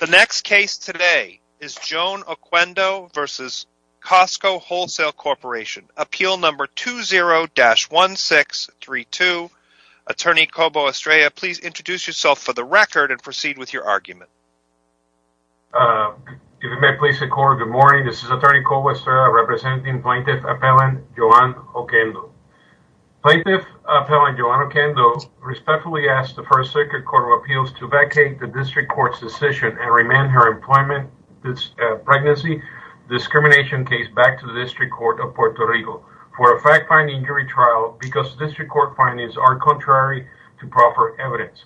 The next case today is Joan Oquendo v. Costco Wholesale Corporation, appeal number 20-1632. Attorney Cobo Estrella, please introduce yourself for the record and proceed with your argument. If you may please record, good morning, this is attorney Cobo Estrella representing plaintiff appellant Joan Oquendo. Plaintiff appellant Joan Oquendo respectfully asked the First Circuit Court of Appeals to vacate the district court's decision and remand her pregnancy discrimination case back to the district court of Puerto Rico for a fact-finding jury trial because district court findings are contrary to proper evidence.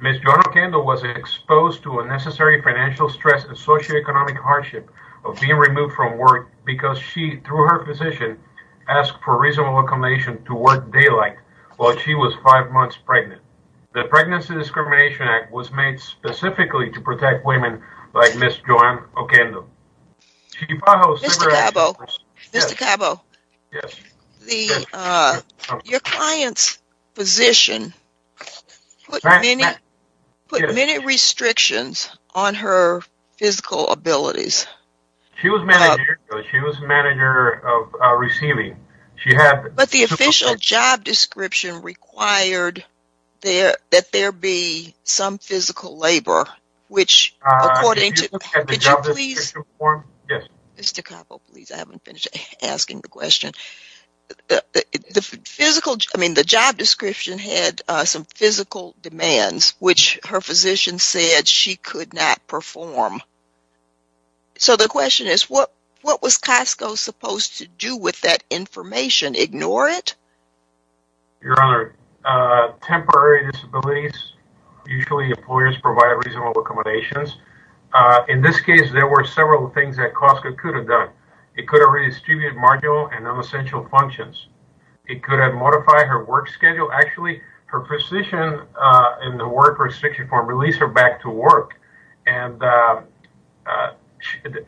Ms. Joan Oquendo was exposed to unnecessary financial stress and socioeconomic hardship of being removed from work because she, through her physician, asked for reasonable accommodation to work daylight while she was five months pregnant. The Pregnancy Discrimination Act was made specifically to protect women like Ms. Joan Oquendo. Mr. Cobo, your client's physician put many restrictions on her physical abilities. She was manager of receiving. But the official job description required that there be some physical labor, which according to... Mr. Cobo, please, I haven't finished asking the question. The job description had some physical demands which her physician said she could not perform. So the question is what was Costco supposed to do with that information? Ignore it? Your Honor, temporary disabilities, usually employers provide reasonable accommodations. In this case, there were several things that Costco could have done. It could have redistributed marginal and non-essential functions. It could have modified her work schedule. Actually, her physician in the work restriction form released her back to work. And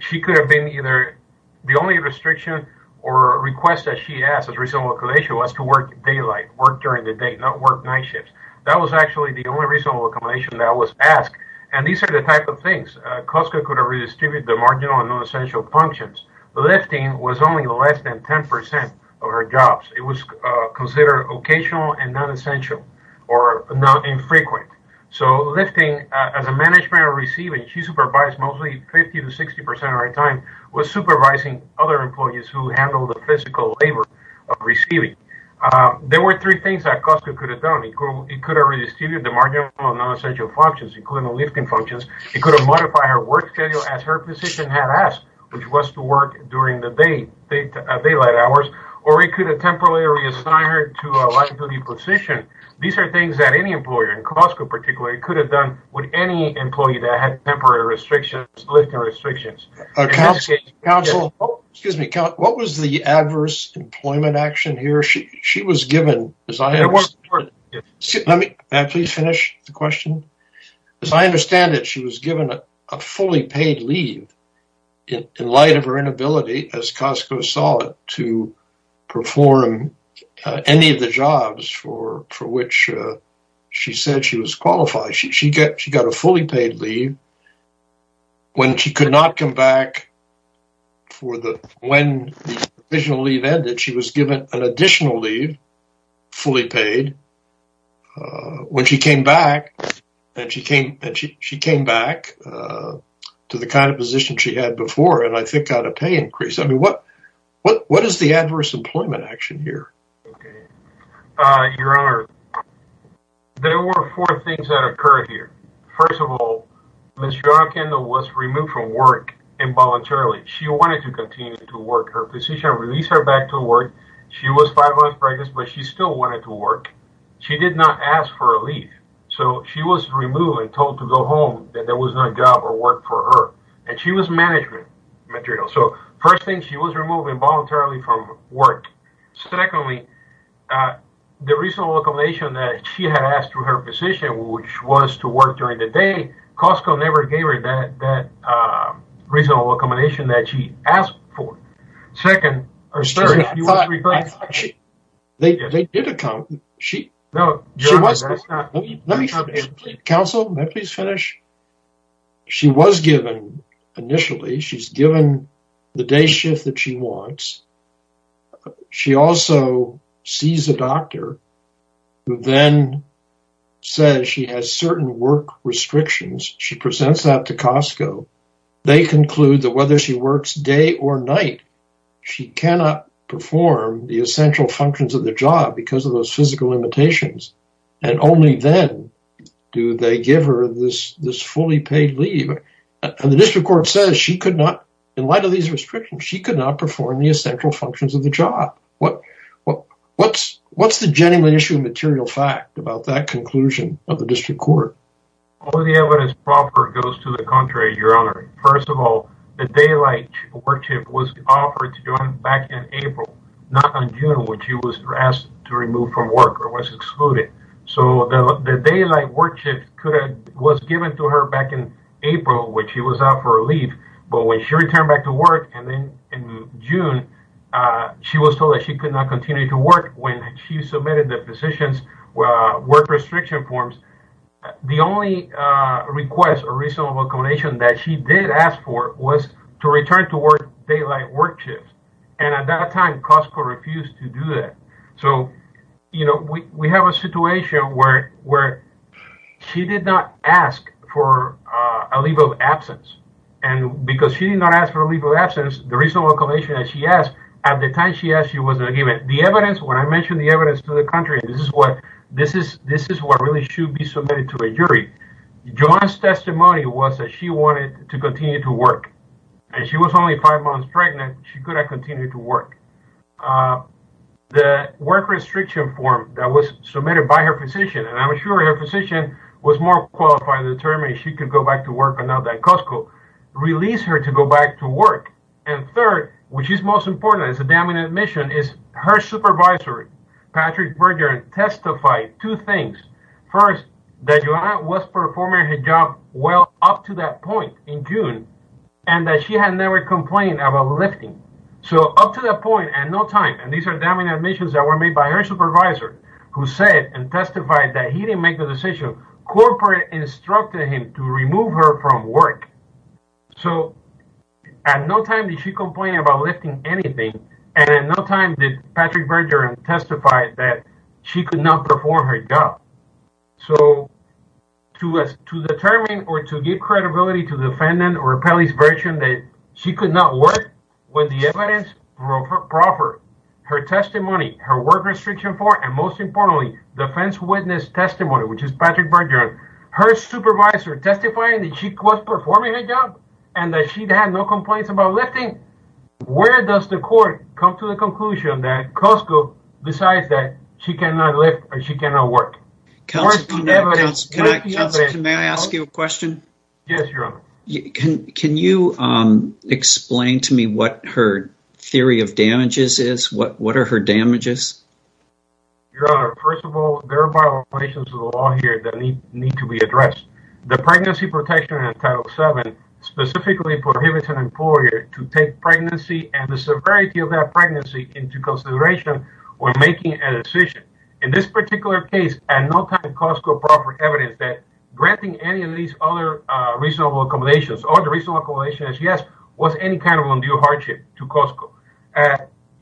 she could have been either the only restriction or request that she asked as reasonable accommodation was to work daylight, work during the day, not work night shifts. That was actually the only reasonable accommodation that was asked. And these are the type of things. Costco could have redistributed the marginal and non-essential functions. Lifting was only less than 10% of her jobs. It was considered occasional and non-essential or not infrequent. So lifting, as a management of receiving, she supervised mostly 50 to 60% of her time with supervising other employees who handled the physical labor of receiving. There were three things that Costco could have done. It could have redistributed the marginal and non-essential functions, including the lifting functions. It could have modified her work schedule as her physician had asked, which was to work during the daylight hours. Or it could have temporarily reassigned her to a liability position. These are things that any employer, and Costco particularly, could have done with any employee that had temporary restrictions, lifting restrictions. Council, excuse me, what was the adverse employment action here? She was given... May I please finish the question? As I understand it, she was given a fully paid leave in light of her inability, as Costco saw it, to perform any of the jobs for which she said she was qualified. She got a fully paid leave when she could not come back for the... When the additional leave ended, she was given an additional leave, fully paid. When she came back, and she came back to the kind of position she had before, and I think got a pay increase. I mean, what is the adverse employment action here? Your Honor, there were four things that occurred here. First of all, Ms. John Kendall was removed from work involuntarily. She wanted to continue to work her position, release her back to work. She was five months pregnant, but she still wanted to work. She did not ask for a leave, so she was removed and told to go home, that there was no job or work for her, and she was management material. So, first thing, she was removed involuntarily from work. Secondly, the reasonable accommodation that she had asked for her position, which was to work during the day, Costco never gave her that reasonable accommodation that she asked for. Second... I thought she... They did account... No, Your Honor, that's not... Let me... Counsel, may I please finish? She was given, initially, she's given the day shift that she wants. She also sees a doctor who then says she has certain work restrictions. She presents that to Costco. They conclude that whether she works day or night, she cannot perform the essential functions of the job because of those physical limitations, and only then do they give her this fully paid leave. And the district court says she could not, in light of these restrictions, she could not perform the essential functions of the job. What's the genuine issue of material fact about that conclusion of the district court? All the evidence proper goes to the contrary, Your Honor. First of all, the daylight work shift was offered to her back in April, not in June, when she was asked to remove from work or was excluded. So the daylight work shift was given to her back in April when she was out for a leave, but when she returned back to work in June, she was told that she could not continue to work when she submitted the physician's work restriction forms. The only request or to return to work daylight work shift, and at that time, Costco refused to do that. So, you know, we have a situation where she did not ask for a leave of absence, and because she did not ask for a leave of absence, the reasonable explanation that she asked, at the time she asked, she wasn't given. The evidence, when I mentioned the evidence to the country, this is what really should be submitted to a jury. Joanne's testimony was that she wanted to continue to work. And she was only five months pregnant. She could not continue to work. The work restriction form that was submitted by her physician, and I'm sure her physician was more qualified to determine if she could go back to work or not than Costco, released her to go back to work. And third, which is most important, it's a dominant mission, her supervisory, Patrick Bergeron, testified two things. First, that Joanne was performing her job well up to that point in June, and that she had never complained about lifting. So up to that point, at no time, and these are dominant admissions that were made by her supervisor, who said and testified that he didn't make the decision. Corporate instructed him to remove her from work. So at no time did she complain about lifting anything. And at no time did Patrick Bergeron testify that she could not perform her job. So to determine or to give credibility to the defendant or appellee's version that she could not work with the evidence proper, her testimony, her work restriction form, and most importantly, defense witness testimony, which is Patrick Bergeron, her supervisor testifying that she was performing her job and that she had no complaints about lifting, where does the court come to the conclusion that Costco decides that she cannot lift or she cannot work? May I ask you a question? Yes, Your Honor. Can you explain to me what her theory of damages is? What are her damages? Your Honor, first of all, there are violations of the law here that need to be addressed. The pregnancy protection in Title VII specifically prohibits an employer to take pregnancy and the severity of that pregnancy into consideration when making a decision. In this particular case, at no time did Costco provide evidence that granting any of these other reasonable accommodations or the reasonable accommodations, yes, was any kind of undue hardship to Costco.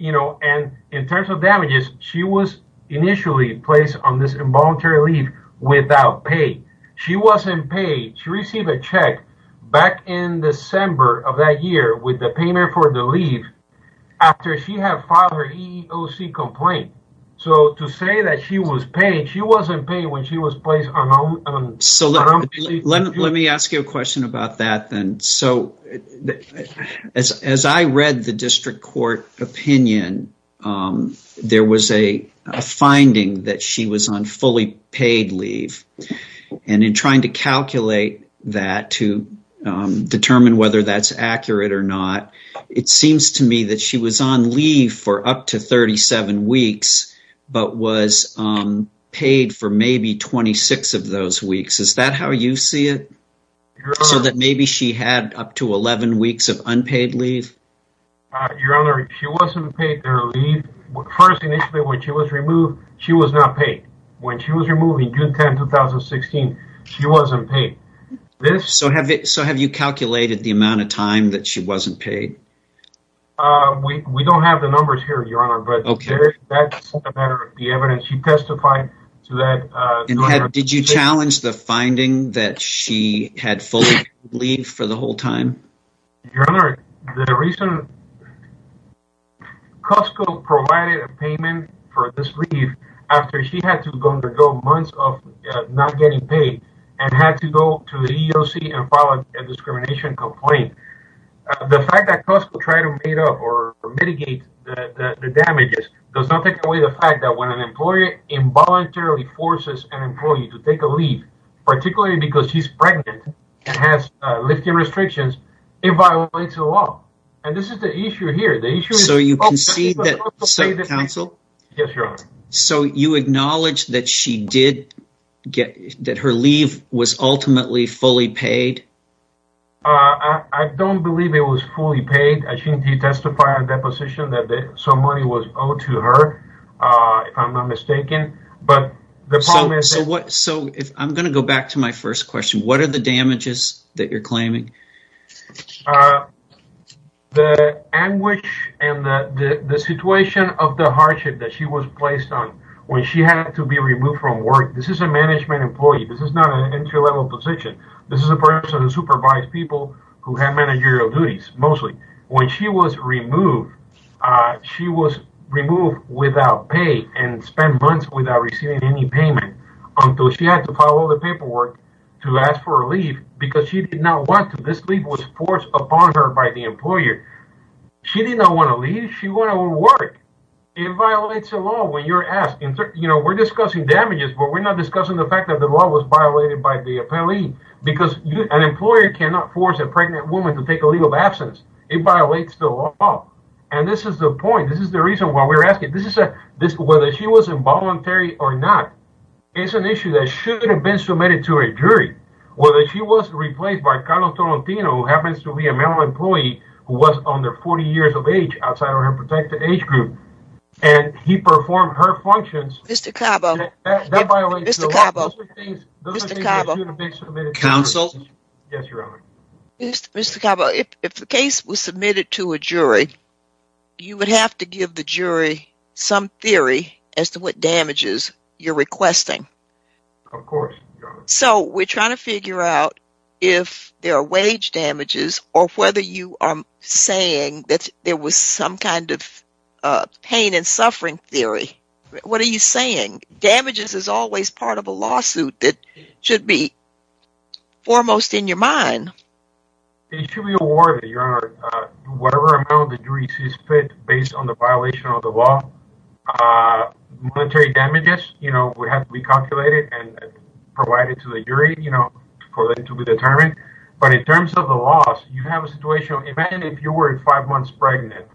You know, and in terms of damages, she was initially placed on this involuntary leave without pay. She wasn't paid. She received a check back in December of that year with the payment for the leave after she had filed her EEOC complaint. So, to say that she was paid, she wasn't paid when she was placed on... So, let me ask you a question about that then. So, as I read the district court opinion, there was a finding that she was on fully paid leave, and in trying to calculate that to determine whether that's accurate or not, it seems to me that she was on leave for up to 37 weeks, but was paid for maybe 26 of those weeks. Is that how you see it? So, that maybe she had up to 11 weeks of unpaid leave? Your Honor, she wasn't paid her leave. First, initially when she was removed, she was not paid. When she was removed in June 10, 2016, she wasn't paid. So, have you calculated the amount of time that she wasn't paid? We don't have the numbers here, Your Honor, but that's a matter of the evidence. She testified to that... And did you challenge the finding that she had fully paid leave for the whole time? Your Honor, the reason... Costco provided a payment for this leave after she had to undergo months of not getting paid and had to go to the EEOC and file a discrimination complaint. The fact that Costco tried to make it up or mitigate the damages does not take away the fact that when an employer involuntarily forces an employee to take a leave, particularly because she's pregnant and has lifting restrictions, it violates the law. And this is the issue here. The issue... So, you concede that... Counsel? Yes, Your Honor. So, you acknowledge that she did get... that her leave was ultimately fully paid? I don't believe it was fully paid. I think he testified at that position that some money was owed to her, if I'm not mistaken. But the problem is... So, I'm going to go back to my first question. What are the damages that you're claiming? The anguish and the situation of the hardship that she was placed on when she had to be removed from work. This is a management employee. This is not an entry-level position. This is a When she was removed, she was removed without pay and spent months without receiving any payment until she had to file all the paperwork to ask for a leave because she did not want to. This leave was forced upon her by the employer. She did not want to leave. She wanted to work. It violates the law when you're asking... You know, we're discussing damages, but we're not discussing the fact that the law was violated by the appellee. Because an employer cannot force a person to leave. It violates the law. And this is the point. This is the reason why we're asking. Whether she was involuntary or not, it's an issue that shouldn't have been submitted to a jury. Whether she was replaced by Carlos Tolentino, who happens to be a male employee who was under 40 years of age, outside of her protected age group, and he performed her functions... Mr. Cabo... That violates the law. Those are things that shouldn't have been submitted to the jury. Counsel? Yes, Your Honor. Mr. Cabo, if the case was submitted to a jury, you would have to give the jury some theory as to what damages you're requesting. Of course, Your Honor. So we're trying to figure out if there are wage damages or whether you are saying that there was some kind of pain and suffering theory. What are you saying? Damages is always part of a fine. It should be awarded, Your Honor, whatever amount the jury sees fit based on the violation of the law. Monetary damages would have to be calculated and provided to the jury for them to be determined. But in terms of the loss, you have a situation... Imagine if you were five months pregnant.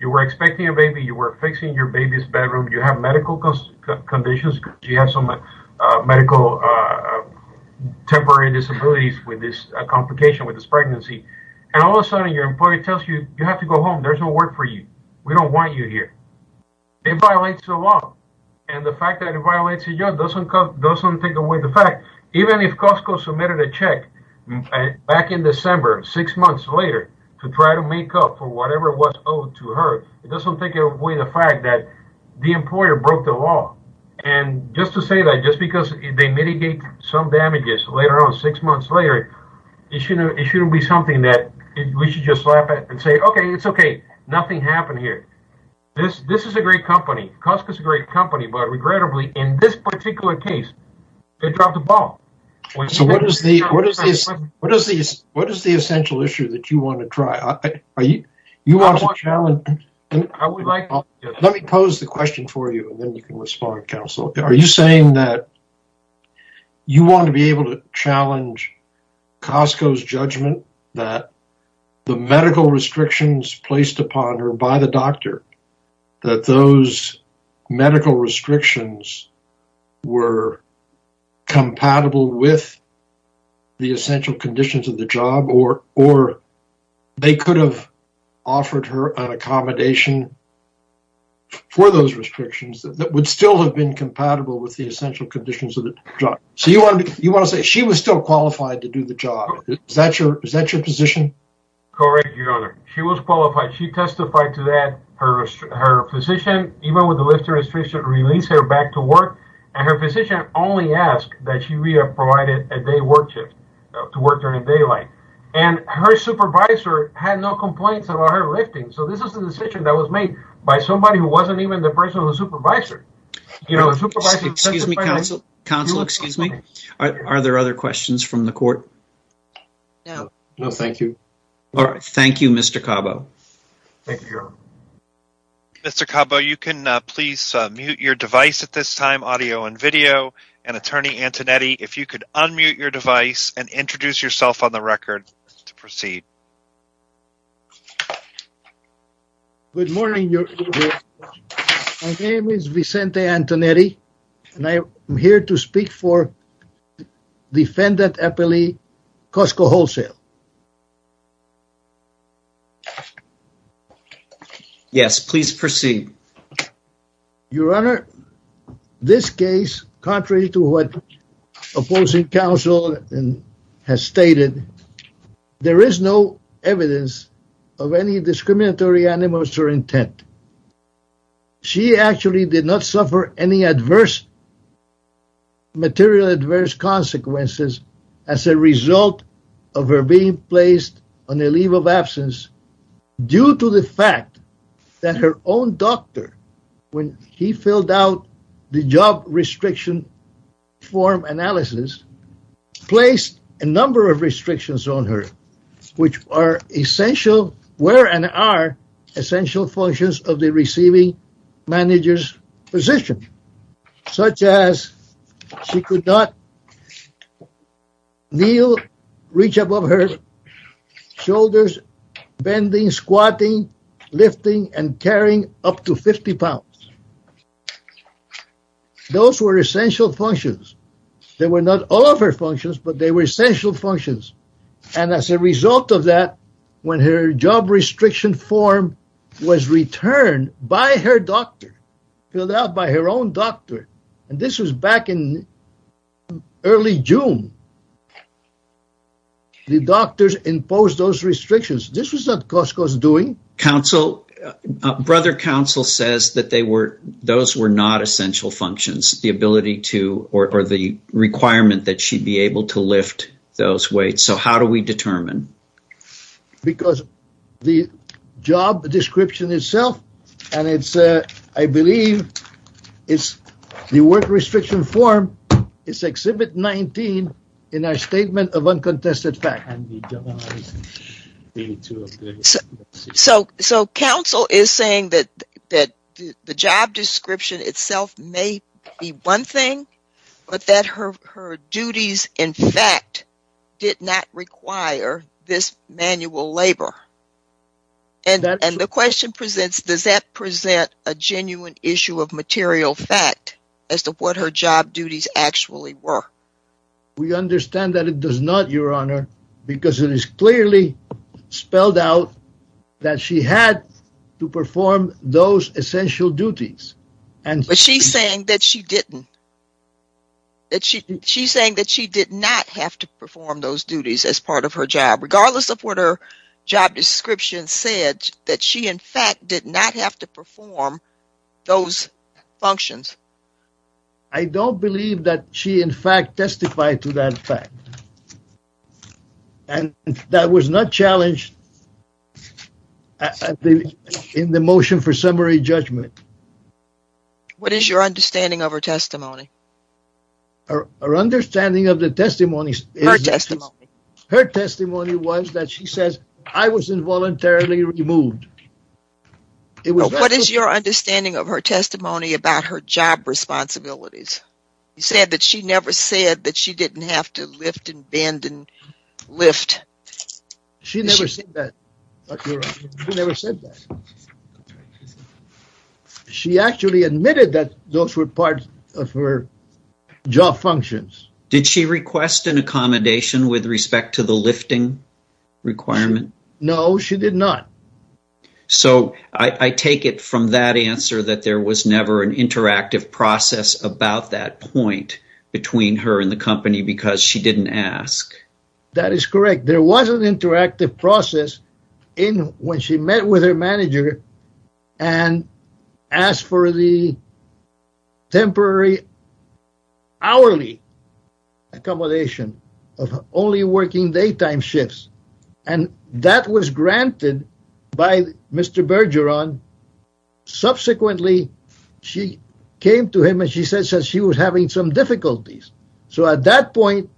You were expecting a baby. You were fixing your baby's bedroom. You have medical conditions. You have some medical... Temporary disabilities with this complication with this pregnancy. And all of a sudden, your employer tells you, you have to go home. There's no work for you. We don't want you here. It violates the law. And the fact that it violates the law doesn't take away the fact... Even if Costco submitted a check back in December, six months later, to try to make up for whatever was owed to her, it doesn't take away the fact that the employer broke the law. And just to say that, just because they mitigate some damages later on, six months later, it shouldn't be something that we should just slap it and say, okay, it's okay. Nothing happened here. This is a great company. Costco is a great company. But regrettably, in this particular case, it dropped the ball. So what is the essential issue that you want to try? You want to challenge... Let me pose the question for you, and then you can respond, counsel. Are you saying that you want to be able to challenge Costco's judgment that the medical restrictions placed upon her by the doctor, that those medical restrictions were compatible with the essential conditions of the job, or they could have offered her an accommodation for those restrictions that would still have been compatible with the essential conditions of the job? So you want to say she was still qualified to do the job. Is that your position? Correct, your honor. She was qualified. She testified to that. Her physician, even with the ask, that she would have provided a day work shift to work during the daylight. And her supervisor had no complaints about her lifting. So this is a decision that was made by somebody who wasn't even the person who supervised her. Excuse me, counsel. Are there other questions from the court? No. No, thank you. All right. Thank you, Mr. Cabo. Thank you, your honor. Mr. Cabo, you can please mute your device at this time, audio and video, and attorney Antonetti, if you could unmute your device and introduce yourself on the record to proceed. Good morning, your honor. My name is Vicente Antonetti, and I am here to speak for defendant appellee Costco Wholesale. Yes, please proceed. Your honor, this case, contrary to what opposing counsel has stated, there is no evidence of any discriminatory animus or intent. She actually did not suffer any adverse material adverse consequences as a result of her being placed on a leave of absence due to the fact that her own doctor, when he filled out the job restriction form analysis, placed a number of restrictions on her, which are essential, were and are essential functions of the receiving manager's position, such as she could not kneel, reach above her shoulders, bending, squatting, lifting, and carrying up to 50 pounds. Those were essential functions. They were not all of her functions, but they were essential functions. And as a result of that, when her job restriction form was returned by her doctor, filled out by her own doctor, and this was back in early June, the doctors imposed those restrictions. This was not Costco's doing. Counsel, brother counsel says that they were, those were not essential functions, the ability to, or the requirement that she'd be able to lift those weights. So how do we determine? Because the job description itself, and it's, I believe it's the work restriction form, it's Exhibit 19 in our Statement of Uncontested Facts. So, so counsel is saying that, that the job description itself may be one thing, but that her, her duties, in fact, did not require this manual labor. And, and the question presents, does that present a genuine issue of material fact as to what her job duties actually were? We understand that it does not, your honor, because it is clearly spelled out that she had to perform those essential duties. But she's saying that she didn't. That she, she's saying that she did not have to perform those duties as part of her job, regardless of what her job description said, that she, in fact, did not have to perform those functions. I don't believe that she, in fact, testified to that fact. And that was not challenged in the motion for summary judgment. What is your understanding of her testimony? Her understanding of the testimony. Her testimony. Her testimony was that she says I was involuntarily removed. It was. What is your understanding of her testimony about her job responsibilities? You said that she never said that she didn't have to lift and bend and lift. She never said that. She never said that. She actually admitted that those were parts of her job functions. Did she request an accommodation with respect to the lifting requirement? No, she did not. So, I take it from that answer that there was never an interactive process about that point between her and the company because she didn't ask. That is correct. There was an interactive process in when she met with her manager and asked for the temporary hourly accommodation of only working daytime shifts and that was granted by Mr. Bergeron. Subsequently, she came to him and she said that she was having some difficulties. So, at that point,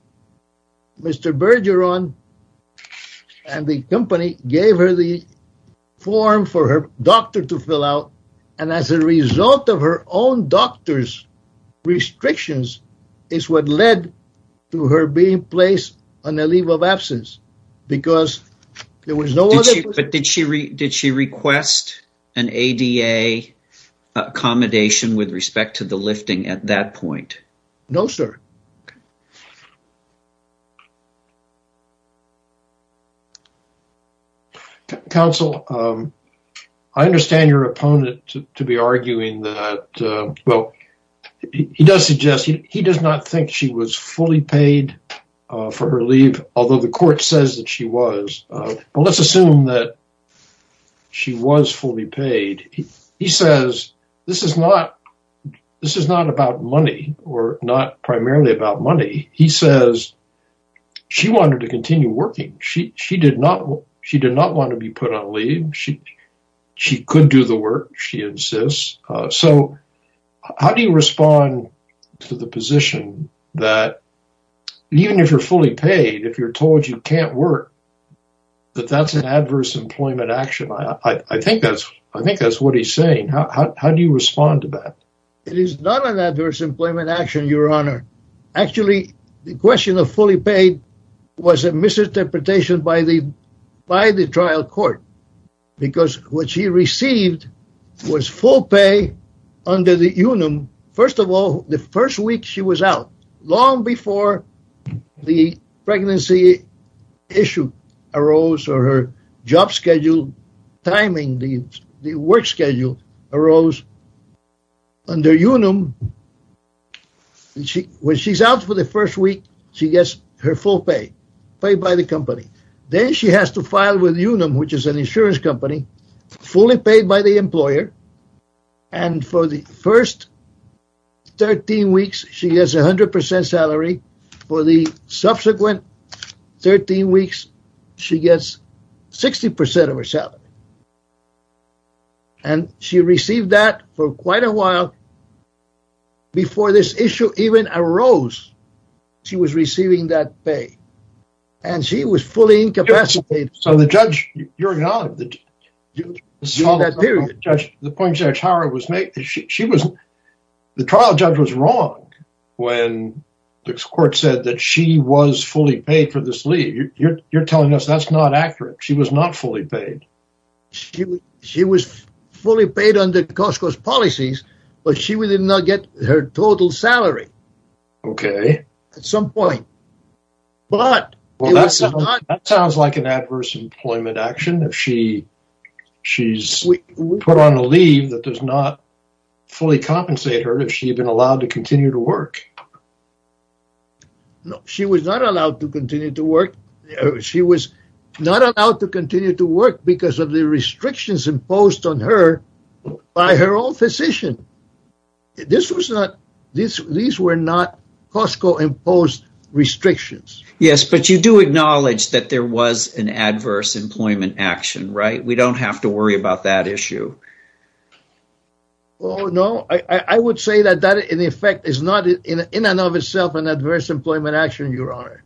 Mr. Bergeron and the company gave her the form for her doctor to fill out and as a result of her own doctor's restrictions is what led to her being placed on a leave of absence because there was no other. Did she request an ADA accommodation with respect to the lifting at that point? No, sir. Okay. Counsel, I understand your opponent to be arguing that, well, he does suggest, he does not think she was fully paid for her leave, although the court says that she was, but let's assume that she was fully paid. He says this is not about money or not money. He says she wanted to continue working. She did not want to be put on leave. She could do the work. She insists. So, how do you respond to the position that even if you're fully paid, if you're told you can't work, that that's an adverse employment action? I think that's what he's saying. How do you respond to that? It is not an adverse employment action, your honor. Actually, the question of fully paid was a misinterpretation by the trial court because what she received was full pay under the union. First of all, the first week she was out, long before the pregnancy issue arose or her job schedule, timing, the work schedule arose under UNUM. When she's out for the first week, she gets her full pay, paid by the company. Then she has to file with UNUM, which is an insurance company, fully paid by the employer. And for the first 13 weeks, she gets 100% salary. For the first 13 weeks, she gets 100% of her salary. And she received that for quite a while before this issue even arose. She was receiving that pay and she was fully incapacitated. So, the judge, your honor, the point Judge Howard was making, the trial judge was wrong when the court said that she was fully paid for this leave. You're telling us that's not accurate. She was not fully paid. She was fully paid under Costco's policies, but she did not get her total salary. Okay. At some point. That sounds like an adverse employment action. She's put on a leave that does not fully compensate her if she had been allowed to continue to work. No, she was not allowed to continue to work. She was not allowed to continue to work because of the restrictions imposed on her by her own physician. These were not Costco imposed restrictions. Yes, but you do acknowledge that there was an adverse employment action, right? We don't have to worry about that issue. Oh, no, I would say that that in effect is not in and of itself an adverse employment action, your honor,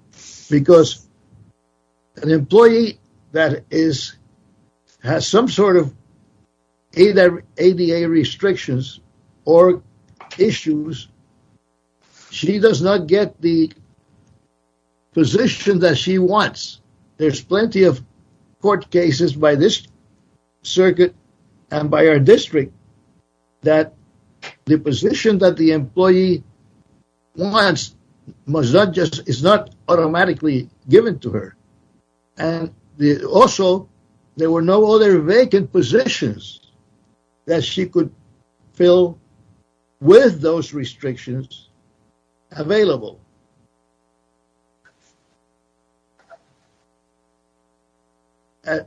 because an employee that has some sort of ADA restrictions or issues, she does not get the position that she wants. There's plenty of court cases by this circuit and by our district that the position that the employee wants is not automatically given to her. And also, there were no other vacant positions that she could fill with those restrictions available.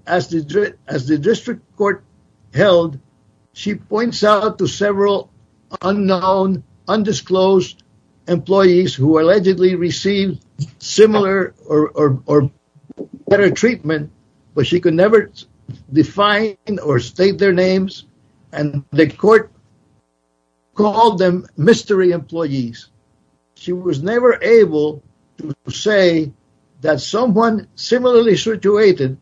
As the district court held, she points out to several unknown, undisclosed employees who allegedly received similar or better treatment, but she could never define or state their names. And the court called them mystery employees. She was never able to say that someone similarly situated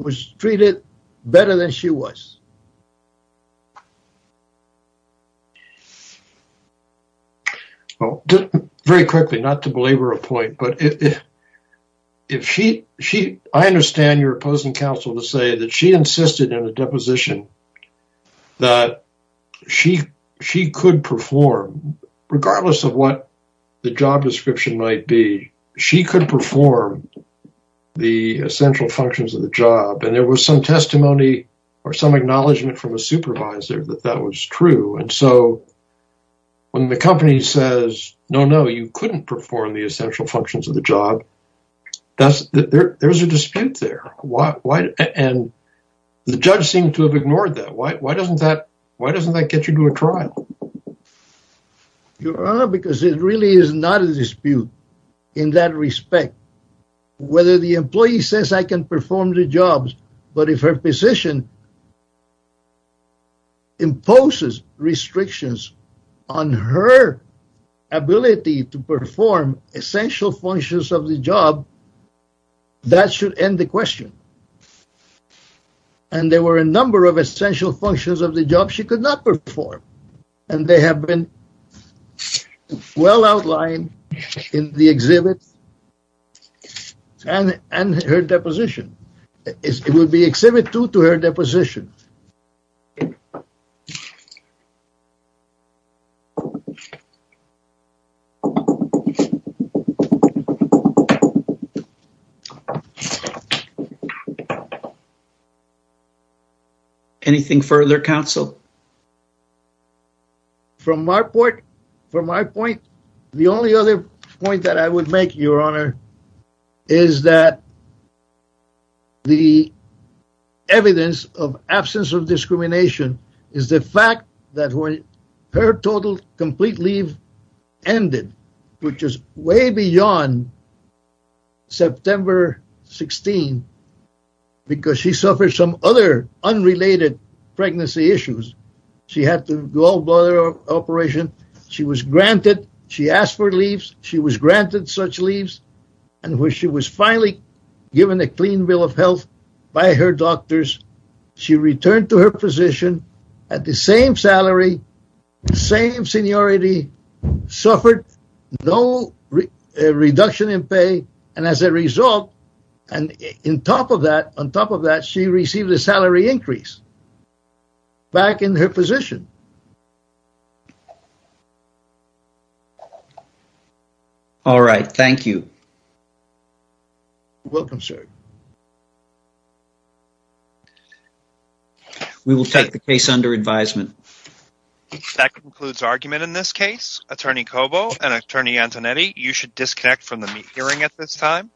was treated better than she was. Well, very quickly, not to belabor a point, but if I understand your opposing counsel to say that she insisted in a deposition that she could perform, regardless of what the job description might be, she could perform the essential functions of the job. And there was some testimony or some acknowledgement from a supervisor that that was true. And so when the company says, no, no, you couldn't perform the essential functions of the job, there's a dispute there. And the judge seemed to have ignored that. Why doesn't that get you to a trial? Your Honor, because it really is not a dispute in that respect, whether the employee says I can perform the jobs, but if her position imposes restrictions on her ability to perform essential functions of the job, that should end the question. And there were a number of essential functions of the job she could not perform, and they have been well outlined in the exhibit and her deposition. It will be exhibit two to her deposition. Anything further, counsel? From my point, the only other point that I would make, Your Honor, is that the evidence of absence of discrimination is the fact that when her total complete leave ended, which is way beyond September 16, because she suffered some other unrelated pregnancy issues, she had to go to operation. She was granted, she asked for leaves, she was granted such leaves, and when she was finally given a clean bill of health by her suffered no reduction in pay, and as a result, and on top of that, she received a salary increase back in her position. All right, thank you. Welcome, sir. We will take the case under advisement. That concludes argument in this case. Attorney Cobo and Attorney Antonetti, you should disconnect from the hearing at this time.